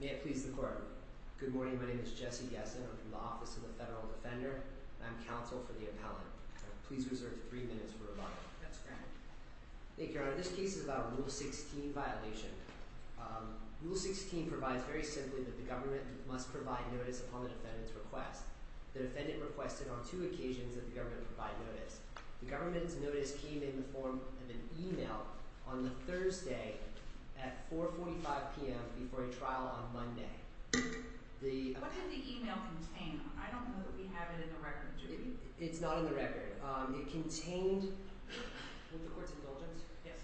May I please the court? Good morning, my name is Jesse Gesson. I'm from the Office of the Attorney General's Office. I'm here today to talk about Rule 16. This case is about a violation of Rule 16. Rule 16 provides very simply that the government must provide notice upon the defendant's request. The defendant requested on two occasions that the government provide notice. The government's notice came in the form of an email on Thursday at 4.45pm before a trial on Monday. What did the email contain? I don't know that we have it in the record. It's not in the record. It contained, would the court's indulgence? Yes.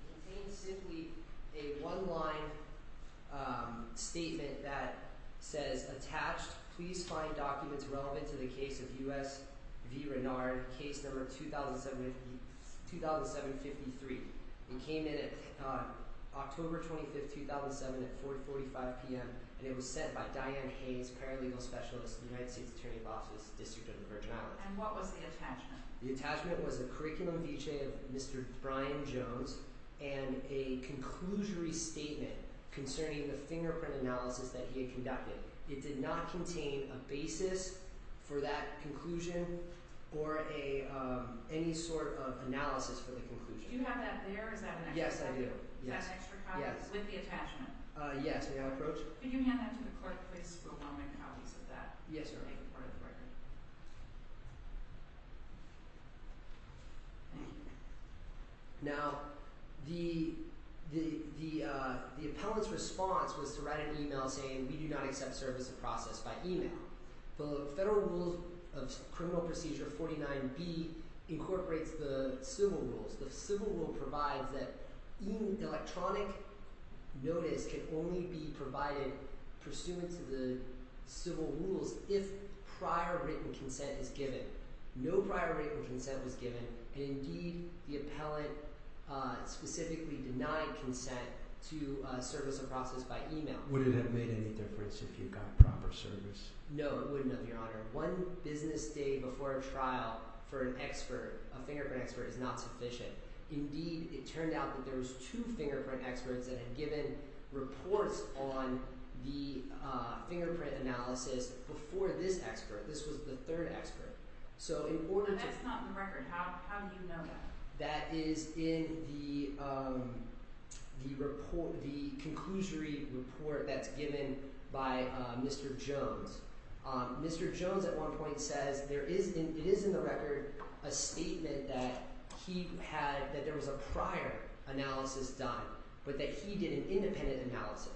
It contained simply a one line statement that says attached please find documents relevant to the case of U.S. v. Renard case number 2753. It came in October 25, 2007 at 4.45pm and it was sent by Diane Haynes, paralegal specialist in the United States Attorney's Office District of the Virgin Islands. And what was the attachment? The attachment was a curriculum v. Mr. Brian Jones and a conclusory statement concerning the fingerprint analysis that he had conducted. It did not contain a basis for that conclusion or any sort of analysis for the conclusion. Do you have that there or is that an extra copy? Yes, I do. Is that an extra copy with the attachment? Yes, may I approach? Could you hand that to the court please for a moment and how he said that? Yes, Your Honor. Now, the appellant's response was to write an email saying we do not accept service of process by email. The Federal Rules of Criminal Procedure 49B incorporates the civil rules. The civil rule provides that electronic notice can only be provided pursuant to the civil rules if prior written consent is given. No prior written consent was given and indeed the appellant specifically denied consent to service of process by email. Would it have made any difference if you got proper service? No, it wouldn't have, Your Honor. One business day before a trial for an expert, a fingerprint expert, is not sufficient. Indeed, it turned out that there was two fingerprint experts that had given reports on the fingerprint analysis before this expert. This was the third expert. So in order to – That's not in the record. How do you know that? That is in the report – the conclusory report that's given by Mr. Jones. Mr. Jones at one point says there is – it is in the record a statement that he had – that there was a prior analysis done but that he did an independent analysis.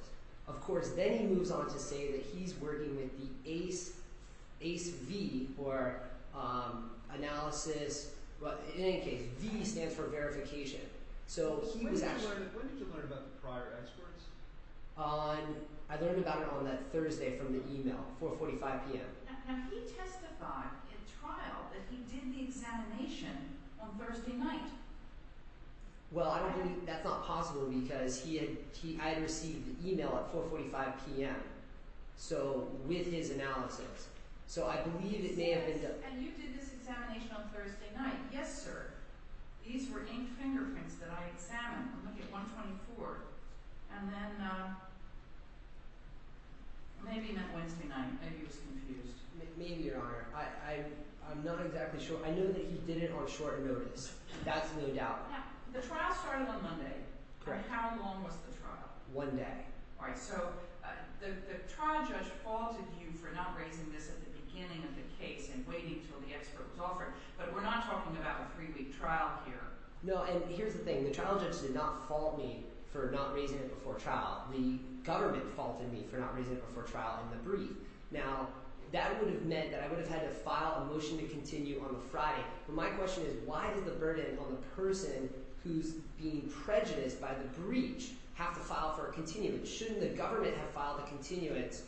Of course, then he moves on to say that he's working with the ACE – ACEV or analysis – in any case, V stands for verification. So he was actually – When did you learn about the prior experts? On – I learned about it on that Thursday from the email, 4.45 p.m. Now, he testified in trial that he did the examination on Thursday night. Well, I don't believe – that's not possible because he had – I had received the email at 4.45 p.m. So with his analysis, so I believe it may have been the – And you did this examination on Thursday night? Yes, sir. These were inked fingerprints that I examined. Look at 124. And then maybe not Wednesday night. Maybe he was confused. Maybe, Your Honor. I'm not exactly sure. I know that he did it on short notice. That's the only doubt. Now, the trial started on Monday. Correct. How long was the trial? One day. All right. So the trial judge faulted you for not raising this at the beginning of the case and waiting until the expert was offered. But we're not talking about a three-week trial here. No, and here's the thing. The trial judge did not fault me for not raising it before trial. The government faulted me for not raising it before trial in the brief. Now, that would have meant that I would have had to file a motion to continue on the Friday. But my question is why did the burden on the person who's being prejudiced by the breach have to file for a continuance? Shouldn't the government have filed a continuance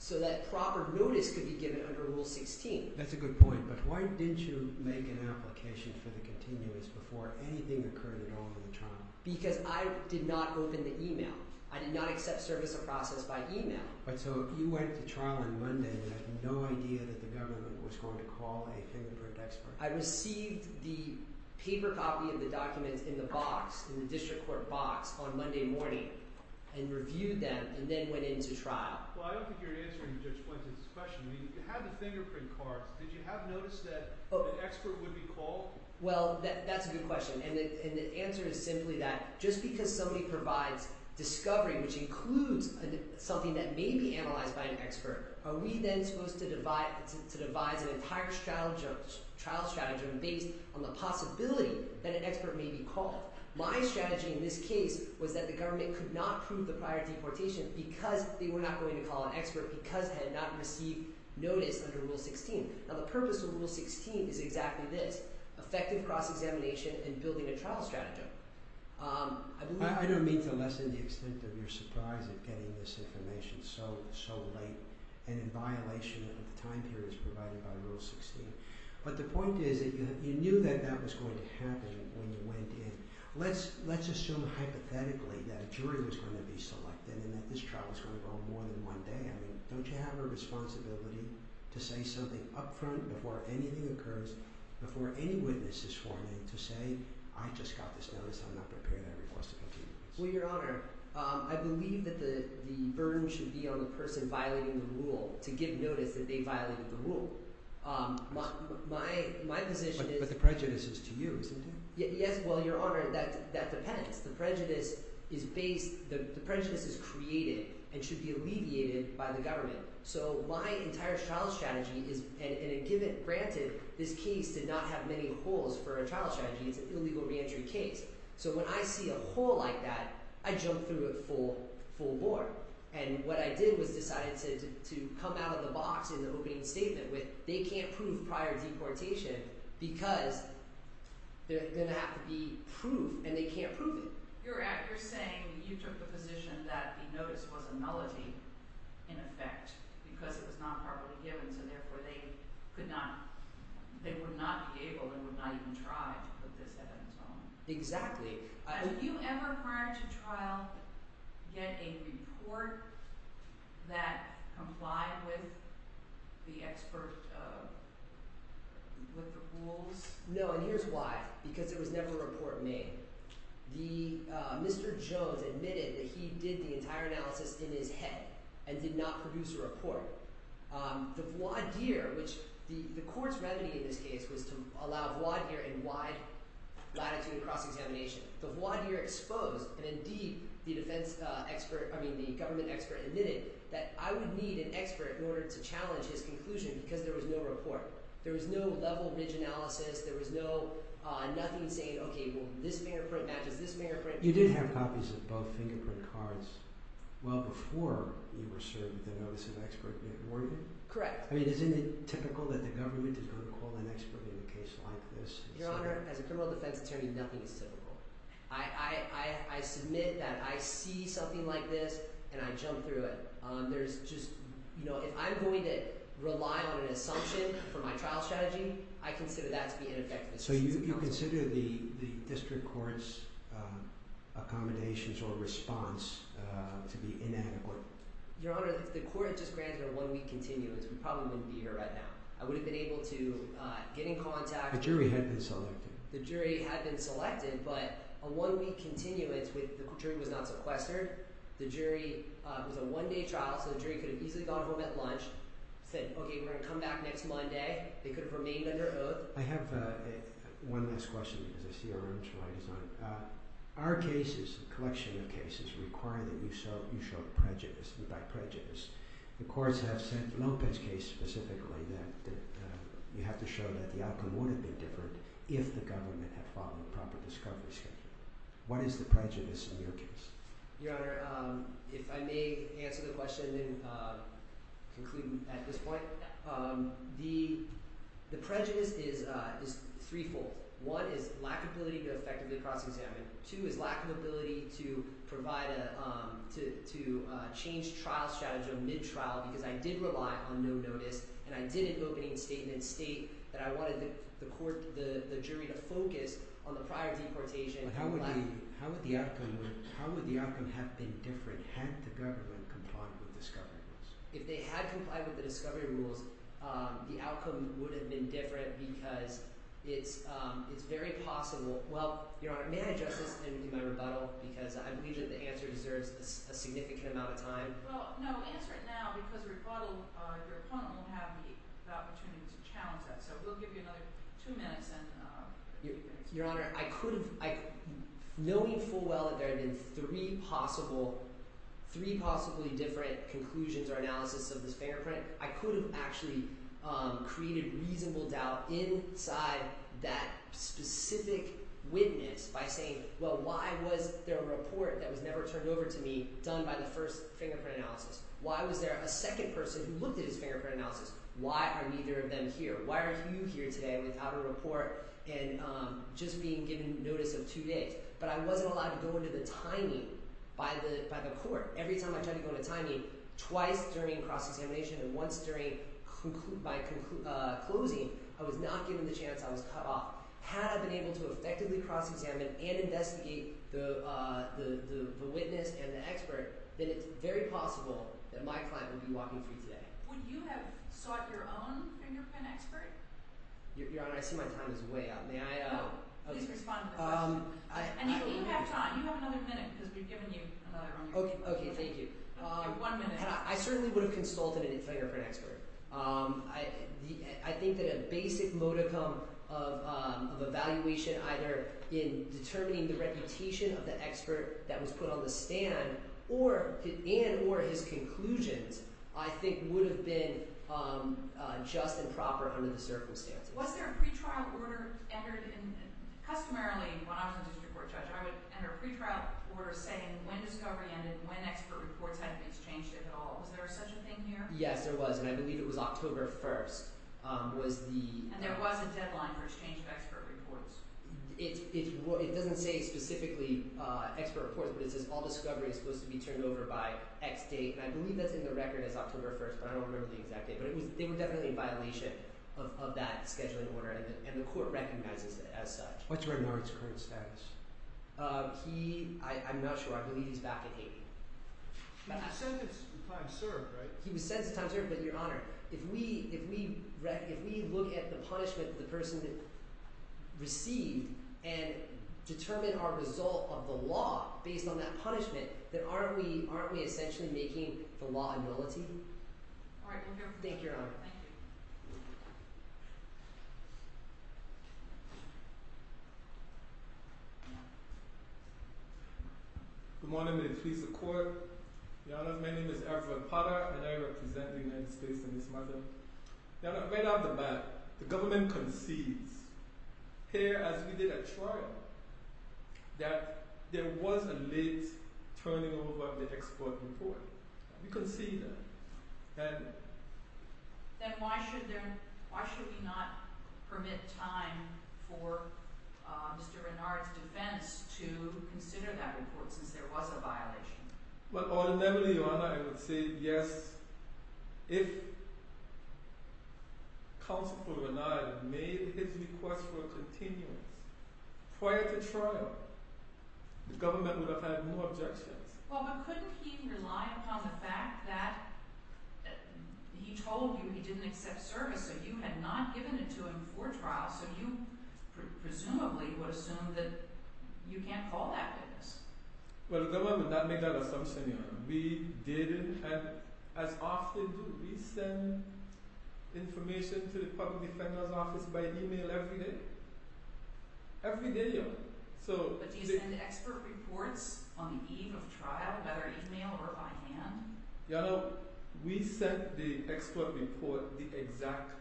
so that proper notice could be given under Rule 16? That's a good point, but why didn't you make an application for the continuance before anything occurred at all in the trial? Because I did not open the email. I did not accept service of process by email. But so you went to trial on Monday and had no idea that the government was going to call a fingerprint expert. I received the paper copy of the documents in the box, in the district court box, on Monday morning and reviewed them and then went into trial. Well, I don't think you're answering Judge Blanton's question. You had the fingerprint cards. Did you have notice that an expert would be called? Well, that's a good question, and the answer is simply that just because somebody provides discovery, which includes something that may be analyzed by an expert, are we then supposed to devise an entire trial strategy based on the possibility that an expert may be called? My strategy in this case was that the government could not prove the prior deportation because they were not going to call an expert because they had not received notice under Rule 16. Now, the purpose of Rule 16 is exactly this – effective cross-examination and building a trial strategy. I don't mean to lessen the extent of your surprise at getting this information so late and in violation of the time periods provided by Rule 16. But the point is that you knew that that was going to happen when you went in. Let's assume hypothetically that a jury was going to be selected and that this trial was going to go more than one day. I mean, don't you have a responsibility to say something up front before anything occurs, before any witness is sworn in, to say, I just got this notice. I'm not prepared. I requested a few minutes. Well, Your Honor, I believe that the burden should be on the person violating the rule to give notice that they violated the rule. My position is – But the prejudice is to you, isn't it? Yes. Well, Your Honor, that depends. The prejudice is based – the prejudice is created and should be alleviated by the government. So my entire trial strategy is – and granted, this case did not have many holes for a trial strategy. It's an illegal reentry case. So when I see a hole like that, I jump through it full bore. And what I did was decided to come out of the box in the opening statement with they can't prove prior deportation because there's going to have to be proof, and they can't prove it. You're saying you took the position that the notice was a nullity in effect because it was not properly given, so therefore they could not – they would not be able and would not even try to put this evidence on. Exactly. Did you ever prior to trial get a report that complied with the expert – with the rules? No, and here's why. Because there was never a report made. The – Mr. Jones admitted that he did the entire analysis in his head and did not produce a report. The voir dire, which – the court's remedy in this case was to allow voir dire in wide latitude cross-examination. The voir dire exposed, and indeed, the defense expert – I mean the government expert admitted that I would need an expert in order to challenge his conclusion because there was no report. There was no level ridge analysis. There was no nothing saying, okay, well, this fingerprint matches this fingerprint. You did have copies of both fingerprint cards well before you were served with the notice of expert being awarded? Correct. I mean isn't it typical that the government is going to call an expert in a case like this? Your Honor, as a criminal defense attorney, nothing is typical. I submit that I see something like this, and I jump through it. There's just – if I'm going to rely on an assumption for my trial strategy, I consider that to be ineffective. So you consider the district court's accommodations or response to be inadequate? Your Honor, the court just granted a one-week continuance. We probably wouldn't be here right now. I would have been able to get in contact. The jury had been selected. The jury had been selected, but a one-week continuance with – the jury was not sequestered. The jury – it was a one-day trial, so the jury could have easily gone home at lunch, said, okay, we're going to come back next Monday. They could have remained under oath. I have one last question because I see our time is up. Our cases, the collection of cases, require that you show prejudice and by prejudice. The courts have said in Lopez's case specifically that you have to show that the outcome would have been different if the government had followed the proper discovery schedule. What is the prejudice in your case? Your Honor, if I may answer the question and conclude at this point. The prejudice is threefold. One is lack of ability to effectively cross-examine. Two is lack of ability to provide a – to change trial strategy on mid-trial because I did rely on no notice and I did an opening statement state that I wanted the court – the jury to focus on the prior deportation. How would the outcome have been different had the government complied with discovery rules? If they had complied with the discovery rules, the outcome would have been different because it's very possible – well, Your Honor, may I address this in my rebuttal because I believe that the answer deserves a significant amount of time? Well, no, answer it now because rebuttal – your opponent will have the opportunity to challenge that. So we'll give you another two minutes and – Your Honor, I could have – knowing full well that there had been three possible – three possibly different conclusions or analysis of this fingerprint, I could have actually created reasonable doubt inside that specific witness by saying, well, why was there a report that was never turned over to me done by the first fingerprint analysis? Why was there a second person who looked at his fingerprint analysis? Why are neither of them here? Why are you here today without a report and just being given notice of two days? But I wasn't allowed to go into the timing by the court. Every time I tried to go into timing, twice during cross-examination and once during – by closing, I was not given the chance. I was cut off. Had I been able to effectively cross-examine and investigate the witness and the expert, then it's very possible that my client would be walking free today. Would you have sought your own fingerprint expert? Your Honor, I see my time is way up. May I – Please respond to the question. And you have time. You have another minute because we've given you another one. Okay. Thank you. You have one minute. I certainly would have consulted a fingerprint expert. I think that a basic modicum of evaluation either in determining the reputation of the expert that was put on the stand and or his conclusions I think would have been just and proper under the circumstances. Was there a pretrial order entered in – customarily, when I was a district court judge, I would enter a pretrial order saying when discovery ended, when expert reports had been exchanged, if at all. Was there such a thing here? Yes, there was, and I believe it was October 1st. Was the – And there was a deadline for exchange of expert reports. It doesn't say specifically expert reports, but it says all discovery is supposed to be turned over by X date, and I believe that's in the record as October 1st, but I don't remember the exact date. But it was – they were definitely in violation of that scheduling order, and the court recognizes it as such. What's Remnard's current status? He – I'm not sure. I believe he's back in Haiti. He was sentenced to time served, right? He was sentenced to time served, but, Your Honor, if we look at the punishment that the person received and determine our result of the law based on that punishment, then aren't we – aren't we essentially making the law a nullity? All right. We'll go. Thank you, Your Honor. Good morning, ladies and gentlemen of the court. Your Honor, my name is Alfred Potter, and I am representing the United States in this matter. Your Honor, right off the bat, the government concedes, here as we did at trial, that there was a late turning over of the expert report. We concede that. Then why should there – why should we not permit time for Mr. Remnard's defense to consider that report since there was a violation? Well, ultimately, Your Honor, I would say, yes, if counsel for Remnard made his request for a continuance prior to trial, the government would have had more objections. Well, but couldn't he rely upon the fact that he told you he didn't accept service, so you had not given it to him before trial, so you presumably would assume that you can't call that business. Well, the government did not make that assumption, Your Honor. We didn't, and as often do. We send information to the public defender's office by email every day. Every day, Your Honor. But do you send expert reports on the eve of trial, either email or by hand? Your Honor, we sent the expert report the exact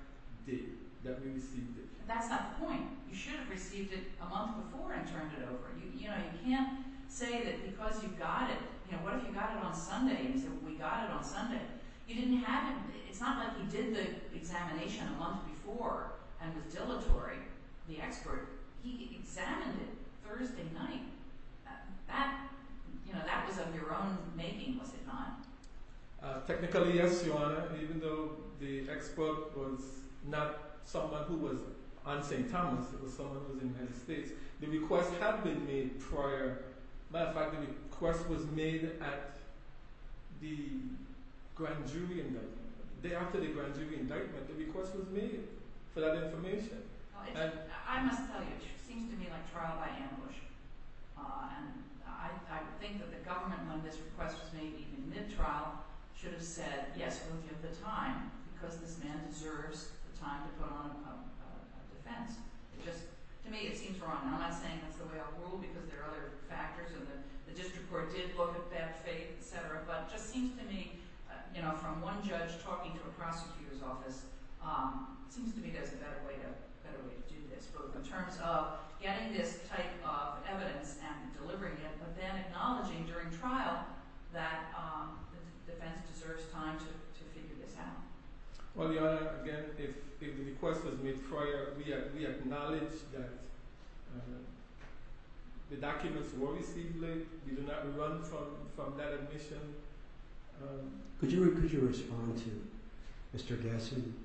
day that we received it. That's not the point. You should have received it a month before and turned it over. You know, you can't say that because you got it, you know, what if you got it on Sunday? We got it on Sunday. You didn't have it. It's not like he did the examination a month before and was dilatory, the expert. He examined it Thursday night. That, you know, that was of your own making, was it not? Technically, yes, Your Honor, even though the expert was not someone who was on St. Thomas. It was someone who was in the United States. The request had been made prior. As a matter of fact, the request was made at the grand jury indictment. The day after the grand jury indictment, the request was made for that information. I must tell you, it seems to me like trial by ambush. I think that the government, when this request was made, even mid-trial, should have said, yes, we'll give the time because this man deserves the time to put on a defense. To me, it seems wrong. I'm not saying that's the way I would rule because there are other factors, and the district court did look at that fate, et cetera, but it just seems to me, you know, from one judge talking to a prosecutor's office, it seems to me there's a better way to do this, both in terms of getting this type of evidence and delivering it, but then acknowledging during trial that the defense deserves time to figure this out. Well, Your Honor, again, if the request was made prior, we acknowledge that the documents were received late. We do not run from that admission. Could you respond to Mr. Gessen's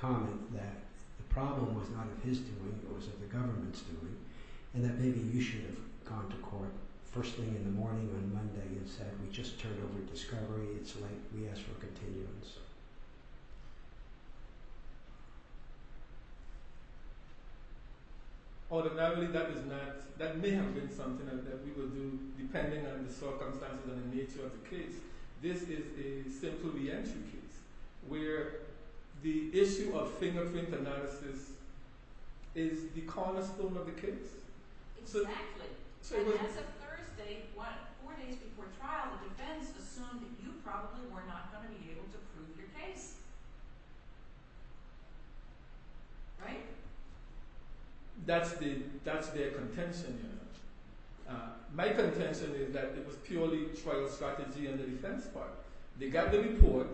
comment that the problem was not of his doing, but was of the government's doing, and that maybe you should have gone to court firstly in the morning on Monday and said, we just turned over discovery. It's late. We ask for a continuum. Alternatively, that may have been something that we will do depending on the circumstances and the nature of the case. This is a simple re-entry case where the issue of fingerprint analysis is the cornerstone of the case. Exactly. And as of Thursday, four days before trial, the defense assumed that you probably were not going to be able to prove your case, right? That's their contention, Your Honor. My contention is that it was purely trial strategy on the defense part. They got the report.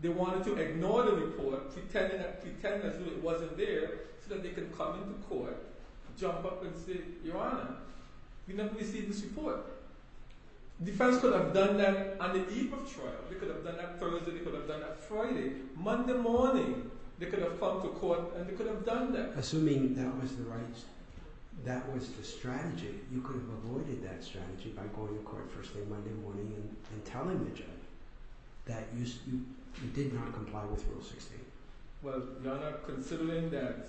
They wanted to ignore the report, pretend that it wasn't there so that they could come to court, jump up and say, Your Honor, we never received this report. The defense could have done that on the eve of trial. They could have done that Thursday. They could have done that Friday. Monday morning, they could have come to court and they could have done that. Assuming that was the strategy, you could have avoided that strategy by going to court firstly Monday morning and telling the judge that you did not comply with Rule 68. Well, Your Honor, considering that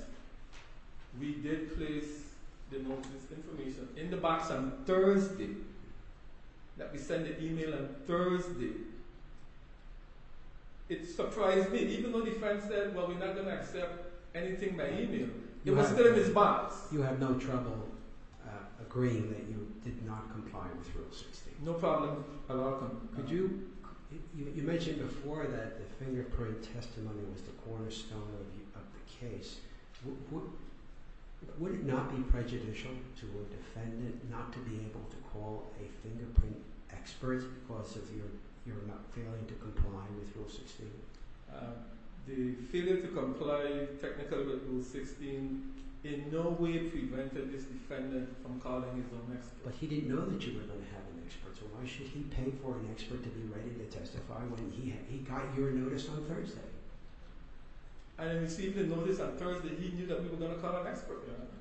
we did place the notice of information in the box on Thursday, that we sent the email on Thursday, it surprised me. Even though the defense said, well, we're not going to accept anything by email, it was still in this box. You had no trouble agreeing that you did not comply with Rule 68. No problem at all. You mentioned before that the fingerprint testimony was the cornerstone of the case. Would it not be prejudicial to a defendant not to be able to call a fingerprint expert because of your not failing to comply with Rule 68? The failure to comply technically with Rule 16 in no way prevented this defendant from calling his own expert. But he didn't know that you were going to have an expert. So why should he pay for an expert to be ready to testify when he got your notice on Thursday? I received the notice on Thursday. He knew that we were going to call an expert, Your Honor.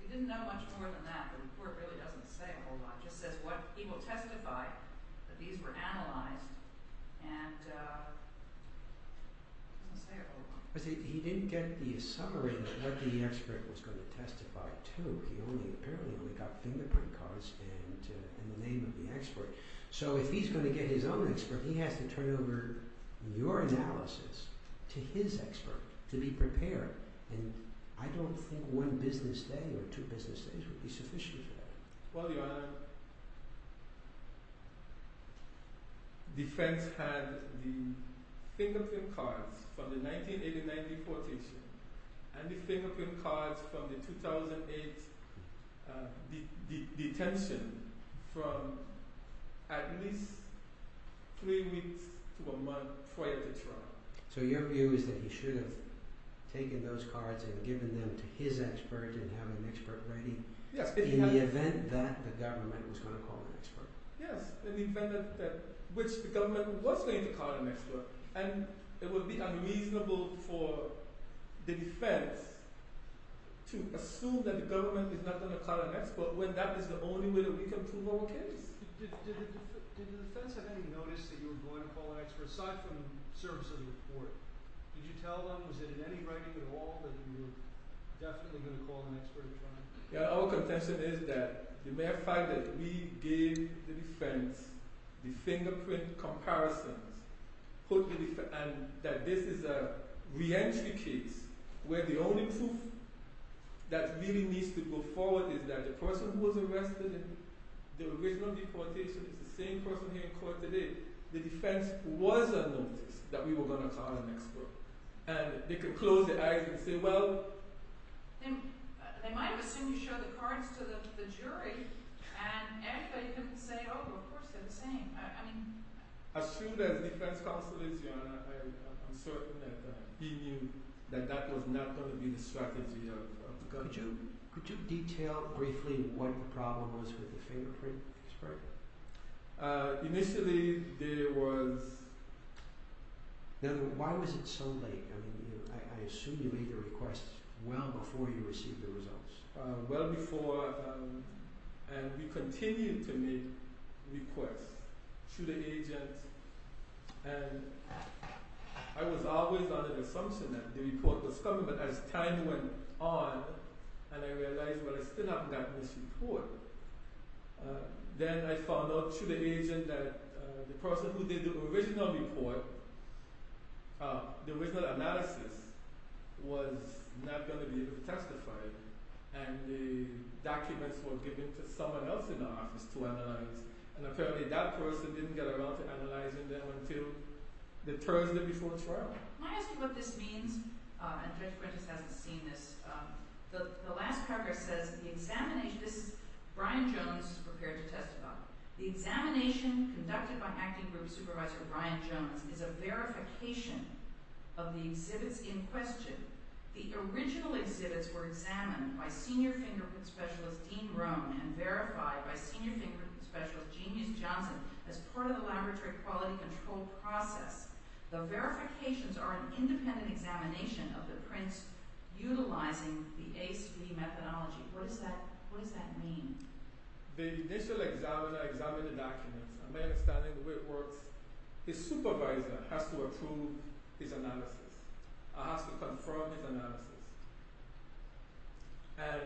He didn't know much more than that. The report really doesn't say a whole lot. It just says what he will testify, that these were analyzed, and it doesn't say a whole lot. He didn't get the summary of what the expert was going to testify to. He only apparently only got fingerprint cards and the name of the expert. So if he's going to get his own expert, he has to turn over your analysis to his expert to be prepared. And I don't think one business day or two business days would be sufficient for that. Well, Your Honor, the defense had the fingerprint cards from the 1989 deportation and the fingerprint cards from the 2008 detention from at least three weeks to a month prior to trial. So your view is that he should have taken those cards and given them to his expert and have an expert writing in the event that the government was going to call an expert? Yes, in the event that the government was going to call an expert. And it would be unreasonable for the defense to assume that the government is not going to call an expert when that is the only way that we can prove our case. Did the defense have any notice that you were going to call an expert? Aside from the service of the report, did you tell them? Was there any writing at all that you were definitely going to call an expert? Our contention is that the mere fact that we gave the defense the fingerprint comparisons and that this is a re-entry case where the only proof that really needs to go forward is that the person who was arrested in the original deportation is the same person here in court today. The defense was on notice that we were going to call an expert. And they could close their eyes and say, well... They might have assumed you showed the cards to the jury and everybody could say, oh, of course, they're the same. As soon as the defense consulates you, I'm certain that he knew that that was not going to be the strategy of the government. Could you detail briefly what the problem was with the fingerprint? Initially, there was... Now, why was it so late? I assume you made your request well before you received the results. Well before... And we continued to make requests to the agents. And I was always under the assumption that the report was coming, but as time went on and I realized, well, I still have that misreport, then I found out through the agent that the person who did the original report, the original analysis, was not going to be able to testify. And the documents were given to someone else in the office to analyze. And apparently that person didn't get around to analyzing them until the Thursday before trial. Can I ask you what this means? And Judge Prentice hasn't seen this. The last paragraph says, Brian Jones is prepared to testify. The examination conducted by Acting Group Supervisor Brian Jones is a verification of the exhibits in question. The original exhibits were examined by Senior Fingerprint Specialist Dean Rohn and verified by Senior Fingerprint Specialist James Johnson as part of the laboratory quality control process. The verifications are an independent examination of the prints utilizing the ACE-B methodology. What does that mean? The initial examiner examined the documents. My understanding is the way it works, the supervisor has to approve his analysis, has to confirm his analysis. and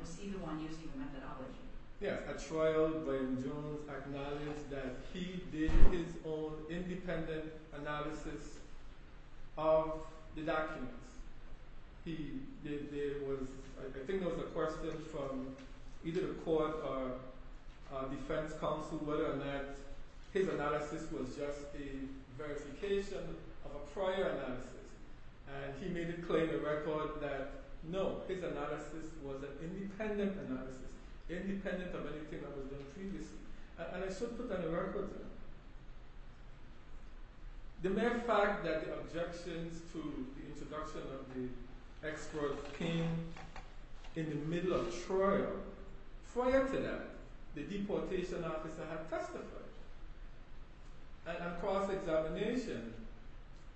was he the one using the methodology? Yes, at trial, Brian Jones acknowledged that he did his own independent analysis of the documents. I think there was a question from either the court or defense counsel whether or not his analysis was just a verification of a prior analysis. And he made it clear in the record that no, his analysis was an independent analysis. Independent of anything that was done previously. And I should put that in the records now. The mere fact that the objections to the introduction of the experts came in the middle of trial, prior to that, the deportation officer had testified. And across examination,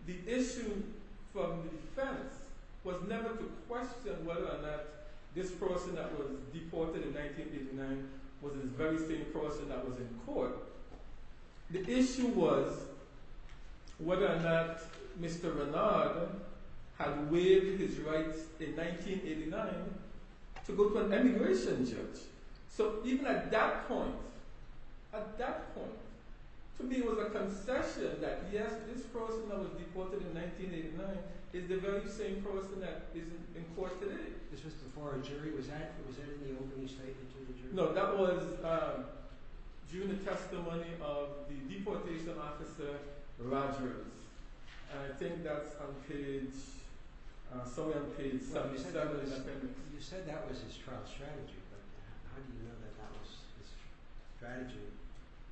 the issue from defense was never to question whether or not this person that was deported in 1989 was the very same person that was in court. The issue was whether or not Mr. Renard had waived his rights in 1989 to go to an immigration judge. So even at that point, at that point, to me it was a concession that yes, this person that was deported in 1989 is the very same person that is in court today. This was before a jury was at? Was there any opening statement to the jury? No, that was during the testimony of the deportation officer Rogers. I think that's on page, somewhere on page 77. You said that was his trial strategy, but how do you know that that was his strategy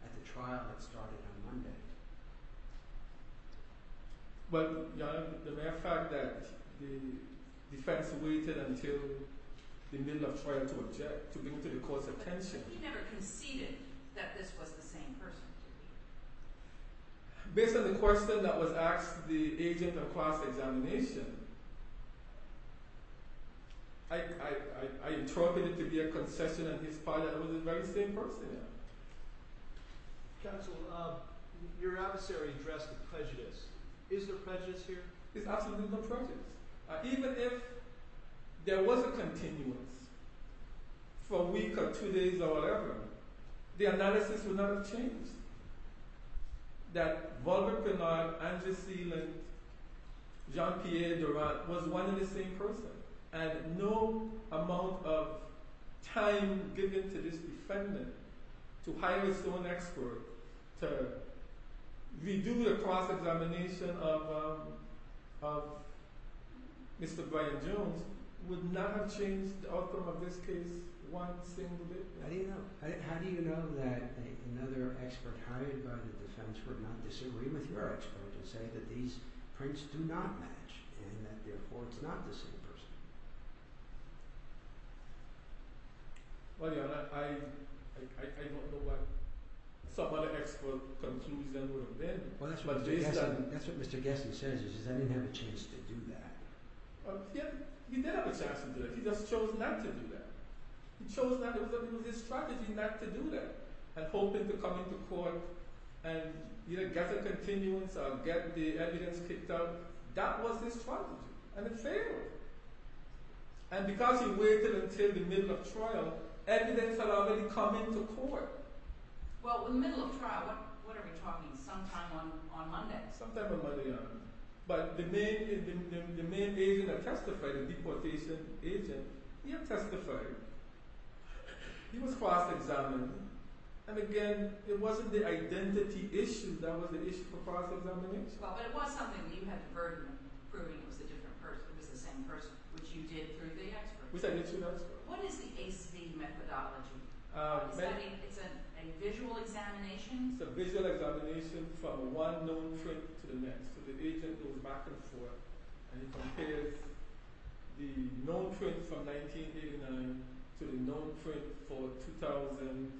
at the trial that started on Monday? Well, the mere fact that the defense waited until the middle of trial to object, to bring to the court's attention. But he never conceded that this was the same person, did he? Based on the question that was asked to the agent across examination, I interpret it to be a concession on his part that it was the very same person. Counsel, your adversary addressed the prejudice. Is there prejudice here? There's absolutely no prejudice. Even if there was a continuance for a week or two days or whatever, the analysis would not have changed. That Volker Knott, Andrew Seeland, Jean-Pierre Durand was one and the same person. And no amount of time given to this defendant to hire his own expert to redo the cross-examination of Mr. Brian Jones would not have changed the outcome of this case one single bit. How do you know that another expert hired by the defense would not disagree with your expert and say that these prints do not match and that, therefore, it's not the same person? Well, your Honor, I don't know what some other expert concludes that would have been. Well, that's what Mr. Gesson says is that he didn't have a chance to do that. He did have a chance to do that. He just chose not to do that. He chose not to use his strategy not to do that and hoping to come into court and get a continuance or get the evidence kicked out. That was his strategy and it failed. And because he waited until the middle of trial, evidence had already come into court. Well, in the middle of trial, what are we talking, sometime on Monday? Sometime on Monday, Your Honor. But the main agent that testified, the deportation agent, he had testified. He was cross-examined. And again, it wasn't the identity issue that was the issue for cross-examination. Well, but it was something that you had the burden of proving it was the same person, which you did through the expert. Which I did through the expert. What is the ACE-B methodology? Is that a visual examination? It's a visual examination from one known trait to the next. So the agent goes back and forth and he compares the known trait from 1989 to the known trait for 2007.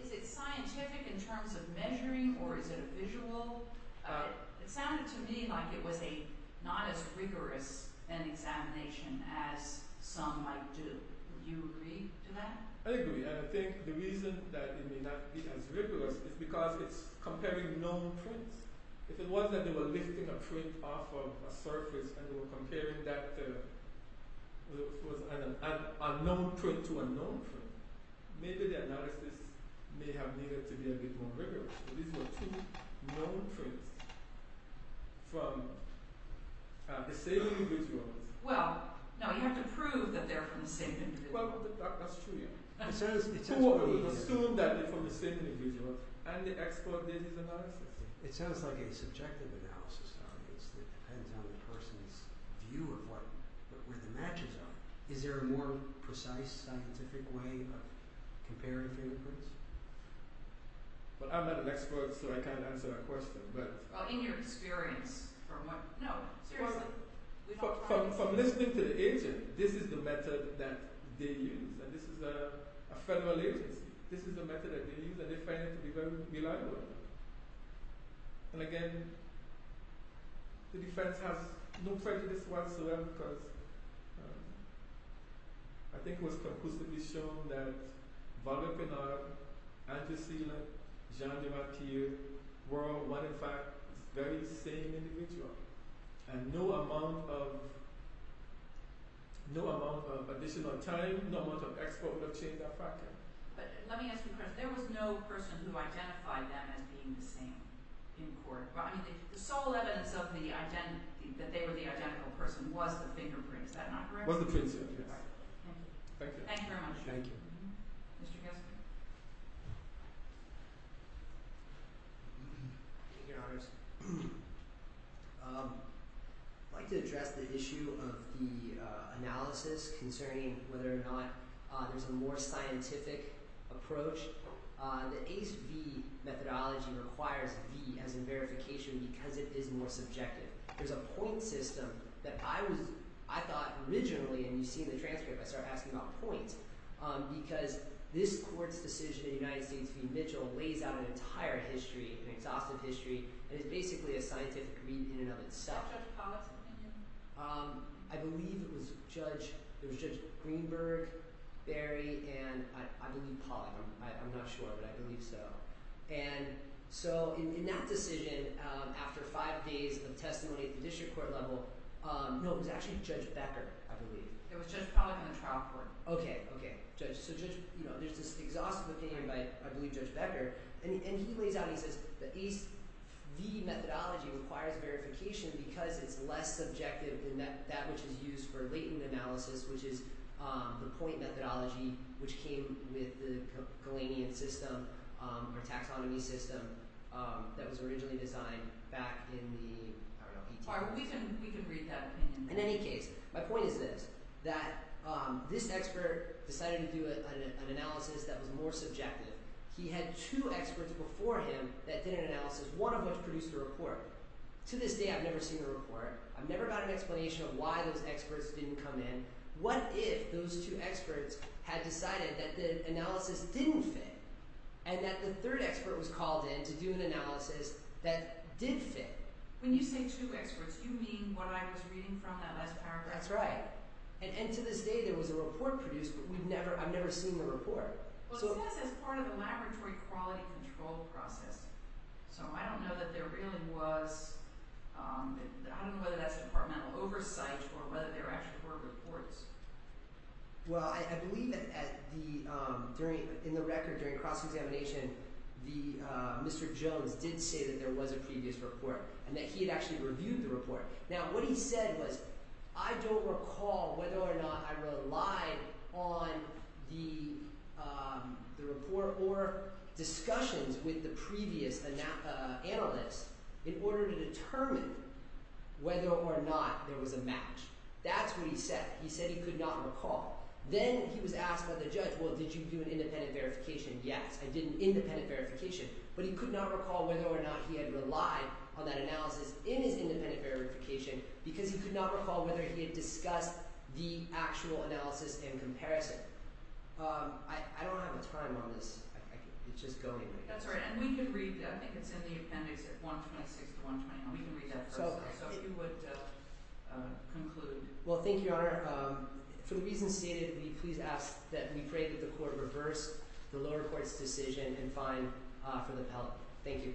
Is it scientific in terms of measuring or is it a visual? It sounded to me like it was not as rigorous an examination as some might do. Do you agree to that? I agree. And I think the reason that it may not be as rigorous is because it's comparing known traits. If it wasn't that they were lifting a trait off of a surface and they were comparing that unknown trait to a known trait, maybe the analysis may have needed to be a bit more rigorous. These were two known traits from the same individual. Well, no, you have to prove that they're from the same individual. Well, that's true, yeah. It's assumed that they're from the same individual and the expert did his analysis. It sounds like a subjective analysis that depends on the person's view of what the matches are. Is there a more precise scientific way of comparing different traits? Well, I'm not an expert so I can't answer that question. Well, in your experience, from what – no, seriously. From listening to the agent, this is the method that they use and this is a federal agency. This is the method that they use and they find it to be very reliable. And again, the defense has no prejudice whatsoever because I think it was conclusively shown that Barbara Pinard, Andrew Seeler, Jean de Martyr were all one and the same individual. And no amount of additional time, no amount of expert would have changed that fact. But let me ask you a question. There was no person who identified them as being the same in court. I mean the sole evidence of the – that they were the identical person was the fingerprint. Is that not correct? Was the fingerprint, yes. All right. Thank you. Thank you very much. Thank you. Mr. Kasper? Thank you, Your Honors. I'd like to address the issue of the analysis concerning whether or not there's a more scientific approach. The ACE-V methodology requires V as in verification because it is more subjective. There's a point system that I was – I thought originally, and you see in the transcript, I start asking about points because this court's decision in the United States v. Mitchell lays out an entire history, an exhaustive history, and it's basically a scientific read in and of itself. Is that Judge Pollack's opinion? I believe it was Judge – it was Judge Greenberg, Berry, and I believe Pollack. I'm not sure, but I believe so. And so in that decision, after five days of testimony at the district court level – no, it was actually Judge Becker, I believe. It was Judge Pollack on the trial court. Okay, okay. Judge – so Judge – you know, there's this exhaustive opinion by, I believe, Judge Becker. And he lays out – he says the ACE-V methodology requires verification because it's less subjective than that which is used for latent analysis, which is the point methodology which came with the Galenian system or taxonomy system that was originally designed back in the – I don't know. We can read that opinion. In any case, my point is this, that this expert decided to do an analysis that was more subjective. He had two experts before him that did an analysis, one of which produced a report. To this day, I've never seen a report. I've never gotten an explanation of why those experts didn't come in. What if those two experts had decided that the analysis didn't fit and that the third expert was called in to do an analysis that did fit? When you say two experts, you mean what I was reading from that last paragraph? That's right. And to this day, there was a report produced, but we've never – I've never seen the report. Well, it says it's part of a laboratory quality control process, so I don't know that there really was – I don't know whether that's departmental oversight or whether there actually were reports. Well, I believe that at the – during – in the record during cross-examination, the – Mr. Jones did say that there was a previous report and that he had actually reviewed the report. Now, what he said was, I don't recall whether or not I relied on the report or discussions with the previous analyst in order to determine whether or not there was a match. That's what he said. He said he could not recall. Then he was asked by the judge, well, did you do an independent verification? Yes, I did an independent verification. But he could not recall whether or not he had relied on that analysis in his independent verification because he could not recall whether he had discussed the actual analysis in comparison. I don't have a time on this. It's just going. That's all right. And we can read that. I think it's in the appendix at 126 to 120, and we can read that first. Well, thank you, Your Honor. For the reasons stated, we please ask that we pray that the court reverse the lower court's decision and fine for the appellant. Thank you.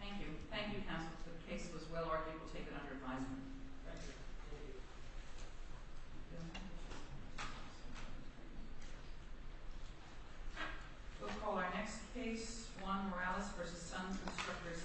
Thank you. Thank you, counsel. The case was well argued. We'll take it under advisement. Thank you. Thank you. We'll call our next case, Juan Morales v. Son, Constructors, Inc.